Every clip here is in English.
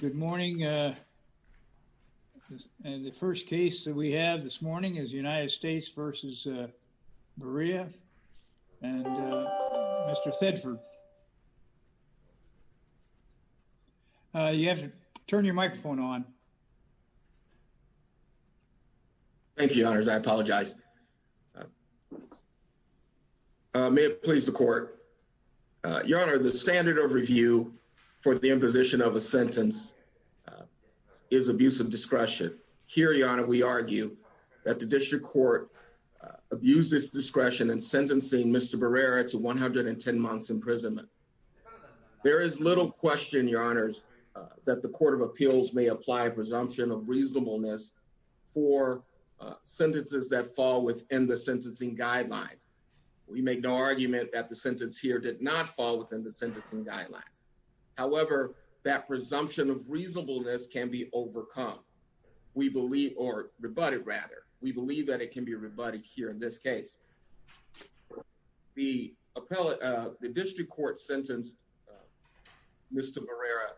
Good morning. The first case that we have this morning is the United States v. Barrera and Mr. Thedford. You have to turn your microphone on. Thank you your honors. I apologize. May it please the court. Your honor, the standard of you for the imposition of a sentence is abuse of discretion. Here, your honor, we argue that the district court abused its discretion in sentencing Mr. Barrera to 110 months imprisonment. There is little question, your honors, that the court of appeals may apply presumption of reasonableness for sentences that fall within the sentencing guidelines. We make no argument that the sentence here did not fall within the sentencing guidelines. However, that presumption of reasonableness can be overcome. We believe, or rebutted rather, we believe that it can be rebutted here in this case. The district court sentenced Mr. Barrera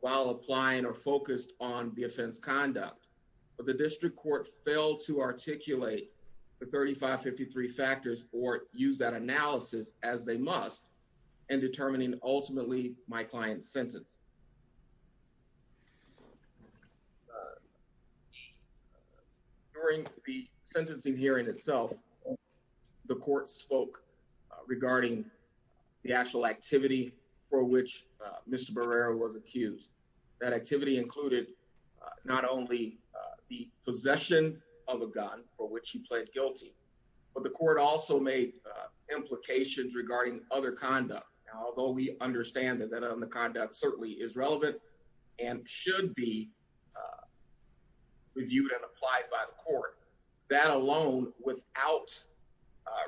while applying or focused on the offense conduct, but the district court failed to articulate the 3553 factors or use that analysis as they must in determining ultimately my client's sentence. During the sentencing hearing itself, the court spoke regarding the actual activity for which Mr. Barrera was accused. That activity included not only the possession of a gun for which he pled guilty, but the court also made implications regarding other conduct. Although we understand that that on the conduct certainly is relevant and should be, uh, reviewed and applied by the court, that alone without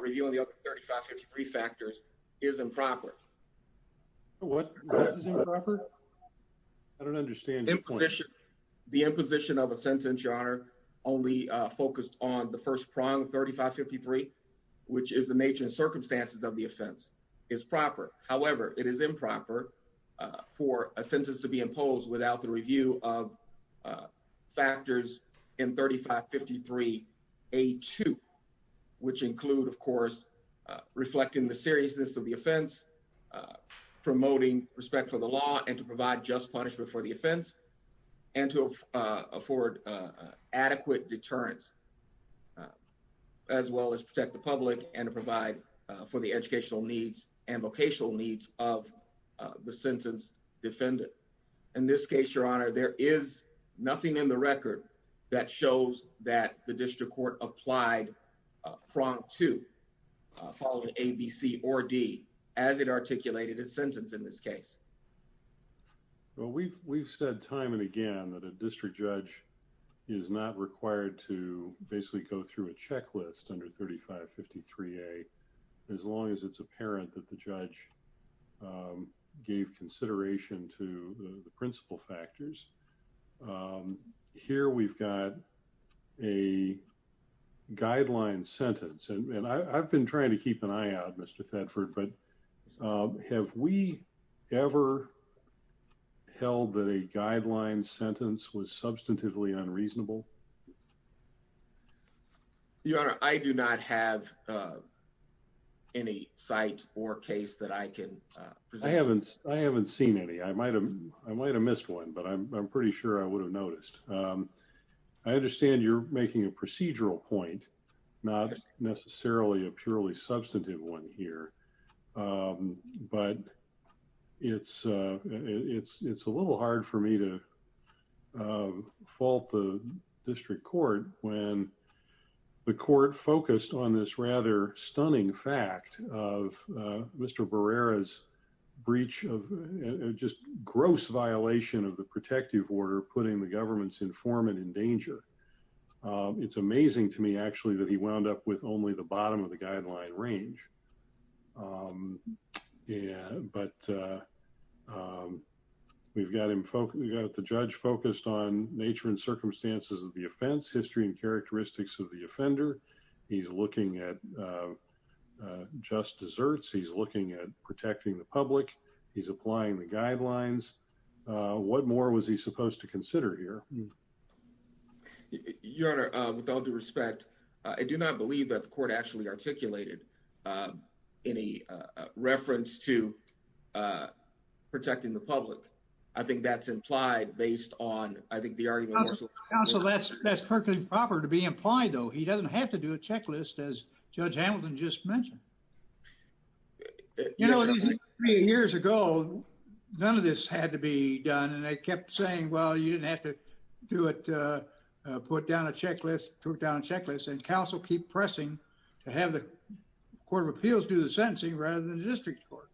reviewing the other 3553 factors is improper. What? I don't understand the imposition of a sentence, your honor, only focused on the first prong 35 53, which is the nature and circumstances of the offense is proper. However, it is improper for a sentence to be imposed without the review of, uh, factors in 35 53 a two, which include, of course, reflecting the seriousness of the offense, uh, promoting respect for the law and to provide just punishment for the offense and to, uh, afford, uh, adequate deterrence, as well as protect the public and provide for the educational needs and vocational needs of the sentence. Defendant. In this case, your honor, there is nothing in the record that shows that the district court applied prompt to follow A B C or D as it articulated his sentence in this case. Well, we've we've said time and again that a district judge is not required to basically go through a checklist under 35 53 a as long as it's apparent that the judge, um, gave consideration to the principal factors. Um, here we've got a guideline sentence and I've been trying to keep an eye out, Mr Thetford. But, um, have we ever held that a guideline sentence was substantively unreasonable? Your honor, I do not have, uh, any site or case that I can. I haven't. I haven't seen any. I might have. I might have missed one, but I'm pretty sure I would have noticed. Um, I understand you're making a procedural point, not necessarily a purely substantive one here. Um, but it's it's It's a little hard for me to, uh, fault the district court when the court focused on this rather stunning fact of Mr Barrera's breach of just gross violation of the protective order, putting the government's informant in danger. It's only the bottom of the guideline range. Um, yeah, but, uh, um, we've got him focused. We got the judge focused on nature and circumstances of the offense, history and characteristics of the offender. He's looking at, uh, just deserts. He's looking at protecting the public. He's applying the guidelines. What more was he supposed to consider here? Your Honor, with all due respect, I do not believe that the court actually articulated, um, in a reference to, uh, protecting the public. I think that's implied based on I think the argument. So that's that's perfectly proper to be implied, though. He doesn't have to do a checklist as Judge Hamilton just mentioned. You know, three years ago, none of this had to be done. And I kept saying, Well, you didn't have to do it. Put down a checklist, took down checklist and counsel keep pressing to have the Court of Appeals do the sentencing rather than the district court.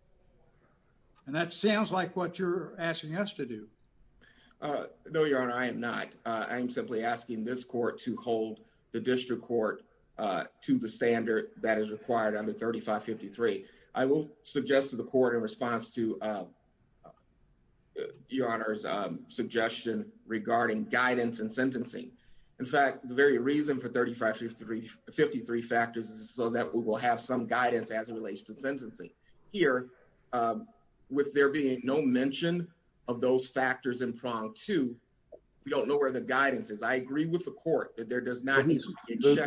And that sounds like what you're asking us to do. Uh, no, Your Honor, I am not. I'm simply asking this court to hold the district court to the standard that is required under 35 53. I will suggest to the court in response to, uh, Your Honor's suggestion regarding guidance and sentencing. In fact, the very reason for 35 53 53 factors is so that we will have some guidance as it relates to sentencing here. Um, with there being no mention of those factors in front, too, we don't know where the guidance is. I agree with the court that there does not need to judge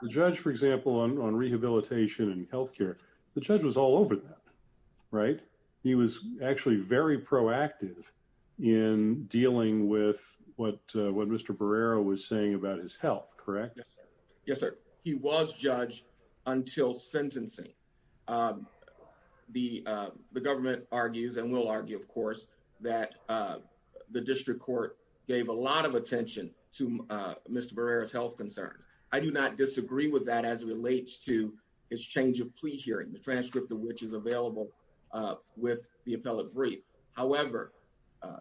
the judge, for example, on rehabilitation and health care. The judge was all over that, right? He was actually very proactive in dealing with what what Mr Barrera was saying about his health. Correct? Yes, sir. He was judged until sentencing. Um, the government argues and will argue, of course, that, uh, the district court gave a lot of attention to Mr Barrera's health concerns. I do not disagree with that as it relates to his change of plea hearing, the transcript of which is available with the appellate brief. However,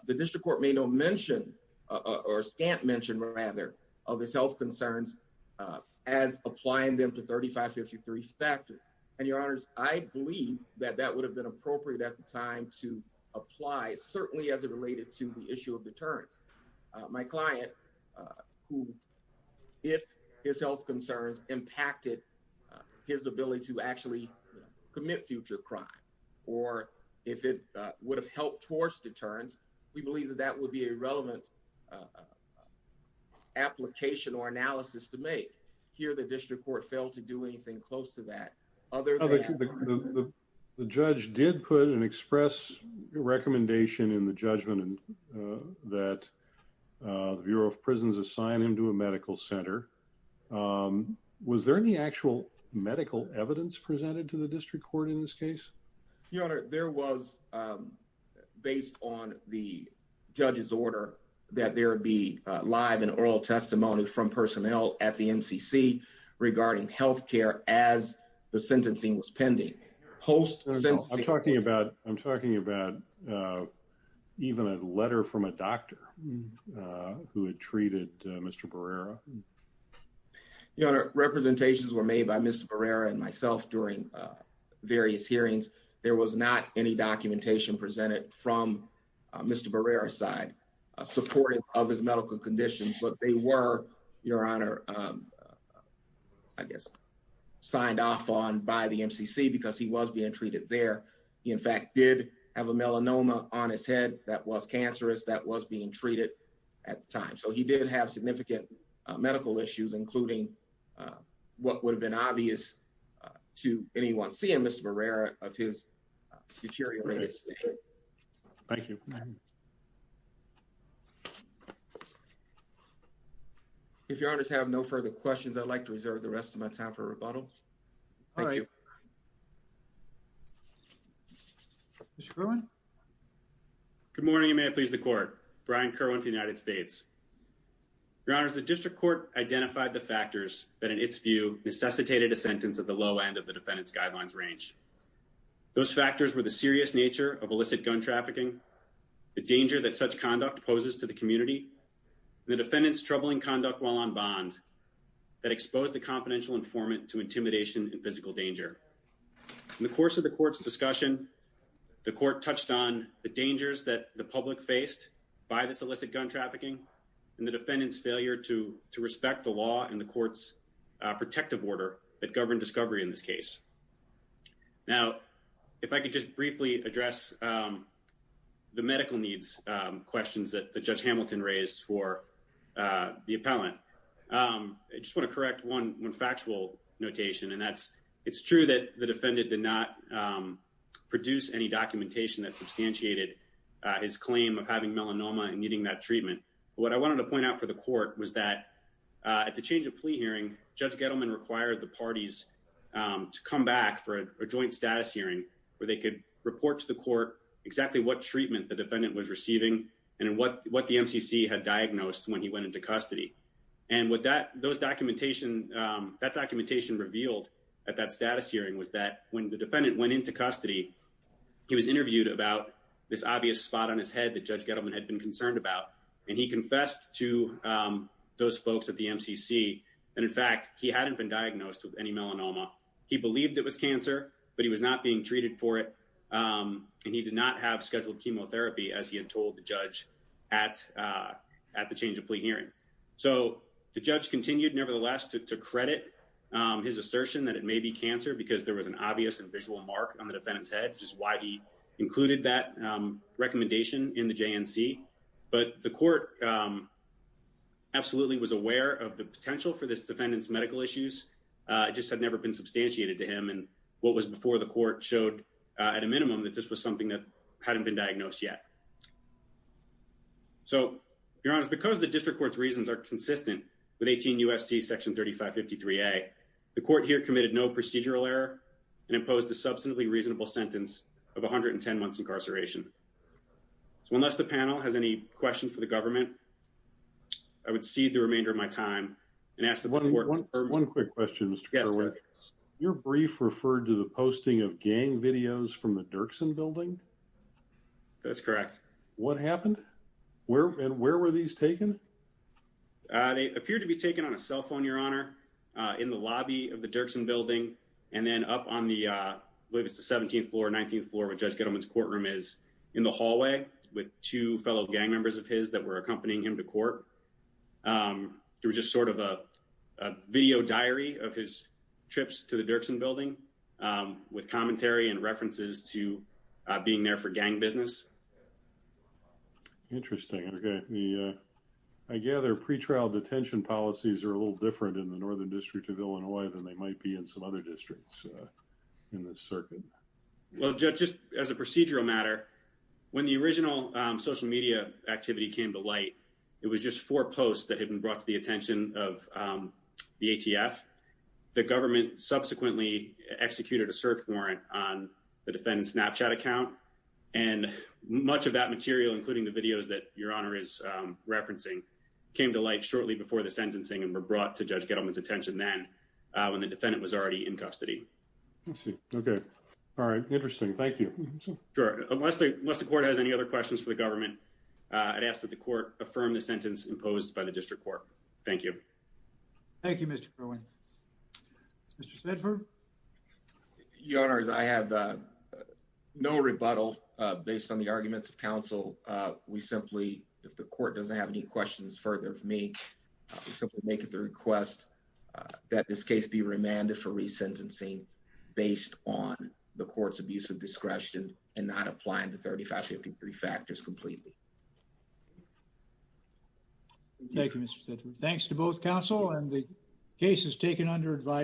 the district court may no mention or stamp mentioned rather of his health concerns as applying them to 35 53 factors. And your honors, I believe that that would have been appropriate at the time to apply, certainly as it related to the issue of it. His ability to actually commit future crime or if it would have helped towards deterrence. We believe that that would be a relevant, uh, application or analysis to make here. The district court failed to do anything close to that other. The judge did put an express recommendation in the judgment that the Bureau of Prisons assign him to a medical center. Um, was there any actual medical evidence presented to the district court in this case? Your honor, there was, um, based on the judge's order that there would be live and oral testimony from personnel at the M. C. C. Regarding health care as the sentencing was pending post. I'm talking about I'm talking about, uh, even a letter from a doctor who had treated Mr Barrera. Mm. Your honor, representations were made by Mr Barrera and myself during, uh, various hearings. There was not any documentation presented from Mr Barrera side supported of his medical conditions, but they were, Your honor, um, I guess signed off on by the M. C. C. Because he was being treated there. In fact, did have a melanoma on his head that was cancerous that was being get medical issues, including, uh, what would have been obvious to anyone seeing Mr Barrera of his deteriorated state. Thank you. If you're honest, have no further questions. I'd like to reserve the rest of my time for rebuttal. All right. Mr Cohen. Good morning. You may please the court. Brian Kerwin United States. Your honor, the district court identified the factors that in its view necessitated a sentence of the low end of the defendant's guidelines range. Those factors were the serious nature of illicit gun trafficking, the danger that such conduct poses to the community, the defendant's troubling conduct while on bond that exposed the confidential informant to intimidation and physical danger. In the course of the court's discussion, the court touched on the dangers that the public faced by this illicit gun trafficking and the defendant's failure to respect the law and the court's protective order that governed discovery in this case. Now, if I could just briefly address, um, the medical needs questions that the judge Hamilton raised for the appellant. Um, I just want to correct 11 factual notation, and that's it's true that the defendant did not produce any documentation that substantiated his claim of having melanoma and needing that treatment. What I wanted to point out for the court was that at the change of plea hearing, Judge Gettleman required the parties to come back for a joint status hearing where they could report to the court exactly what treatment the defendant was receiving and what what the M. C. C. Had diagnosed when he went into custody. And with that, those documentation that documentation revealed at that status hearing was that when the defendant went into custody, he was interviewed about this and concerned about and he confessed to, um, those folks at the M. C. C. And in fact, he hadn't been diagnosed with any melanoma. He believed it was cancer, but he was not being treated for it. Um, and he did not have scheduled chemotherapy as he had told the judge at, uh, at the change of plea hearing. So the judge continued, nevertheless, to credit his assertion that it may be cancer because there was an obvious and visual mark on the defendant's head, which is why he included that recommendation in the J. N. C. But the court, um, absolutely was aware of the potential for this defendant's medical issues. Uh, it just had never been substantiated to him. And what was before the court showed at a minimum that this was something that hadn't been diagnosed yet. So, Your Honor, because the district court's reasons are consistent with 18 U. S. C. Section 35 53 A. The court here committed no procedural error and posed a substantially reasonable sentence of 110 months incarceration. So unless the panel has any questions for the government, I would see the remainder of my time and ask the one quick questions. Your brief referred to the posting of gang videos from the Dirksen building. That's correct. What happened? Where and where were these taken? They appear to be taken on a cell phone, Your Honor, in the lobby of the Dirksen building, and then up on the 17th floor, 19th floor of Judge Gettleman's courtroom is in the hallway with two fellow gang members of his that were accompanying him to court. Um, it was just sort of a video diary of his trips to the Dirksen building, um, with commentary and references to being there for gang business. Interesting. Okay, I gather pretrial detention policies are a little different in the northern district of Illinois than they might be in some other districts in this circuit. Well, just as a procedural matter, when the original social media activity came to light, it was just four posts that had been brought to the attention of, um, the A. T. F. The government subsequently executed a search warrant on the defendant's Snapchat account, and much of that material, including the videos that Your Honor is referencing, came to shortly before the sentencing and were brought to Judge Gettleman's attention then, when the defendant was already in custody. Okay. All right. Interesting. Thank you. Sure. Unless the court has any other questions for the government, I'd ask that the court affirmed the sentence imposed by the district court. Thank you. Thank you, Mr Rowan. Mr Stedford. Your Honor, I have, uh, no rebuttal based on the arguments of counsel. We simply make it the request that this case be remanded for resentencing based on the court's abuse of discretion and not applying the 35 53 factors completely. Thank you, Mr Stedford. Thanks to both counsel and the cases taken under advice.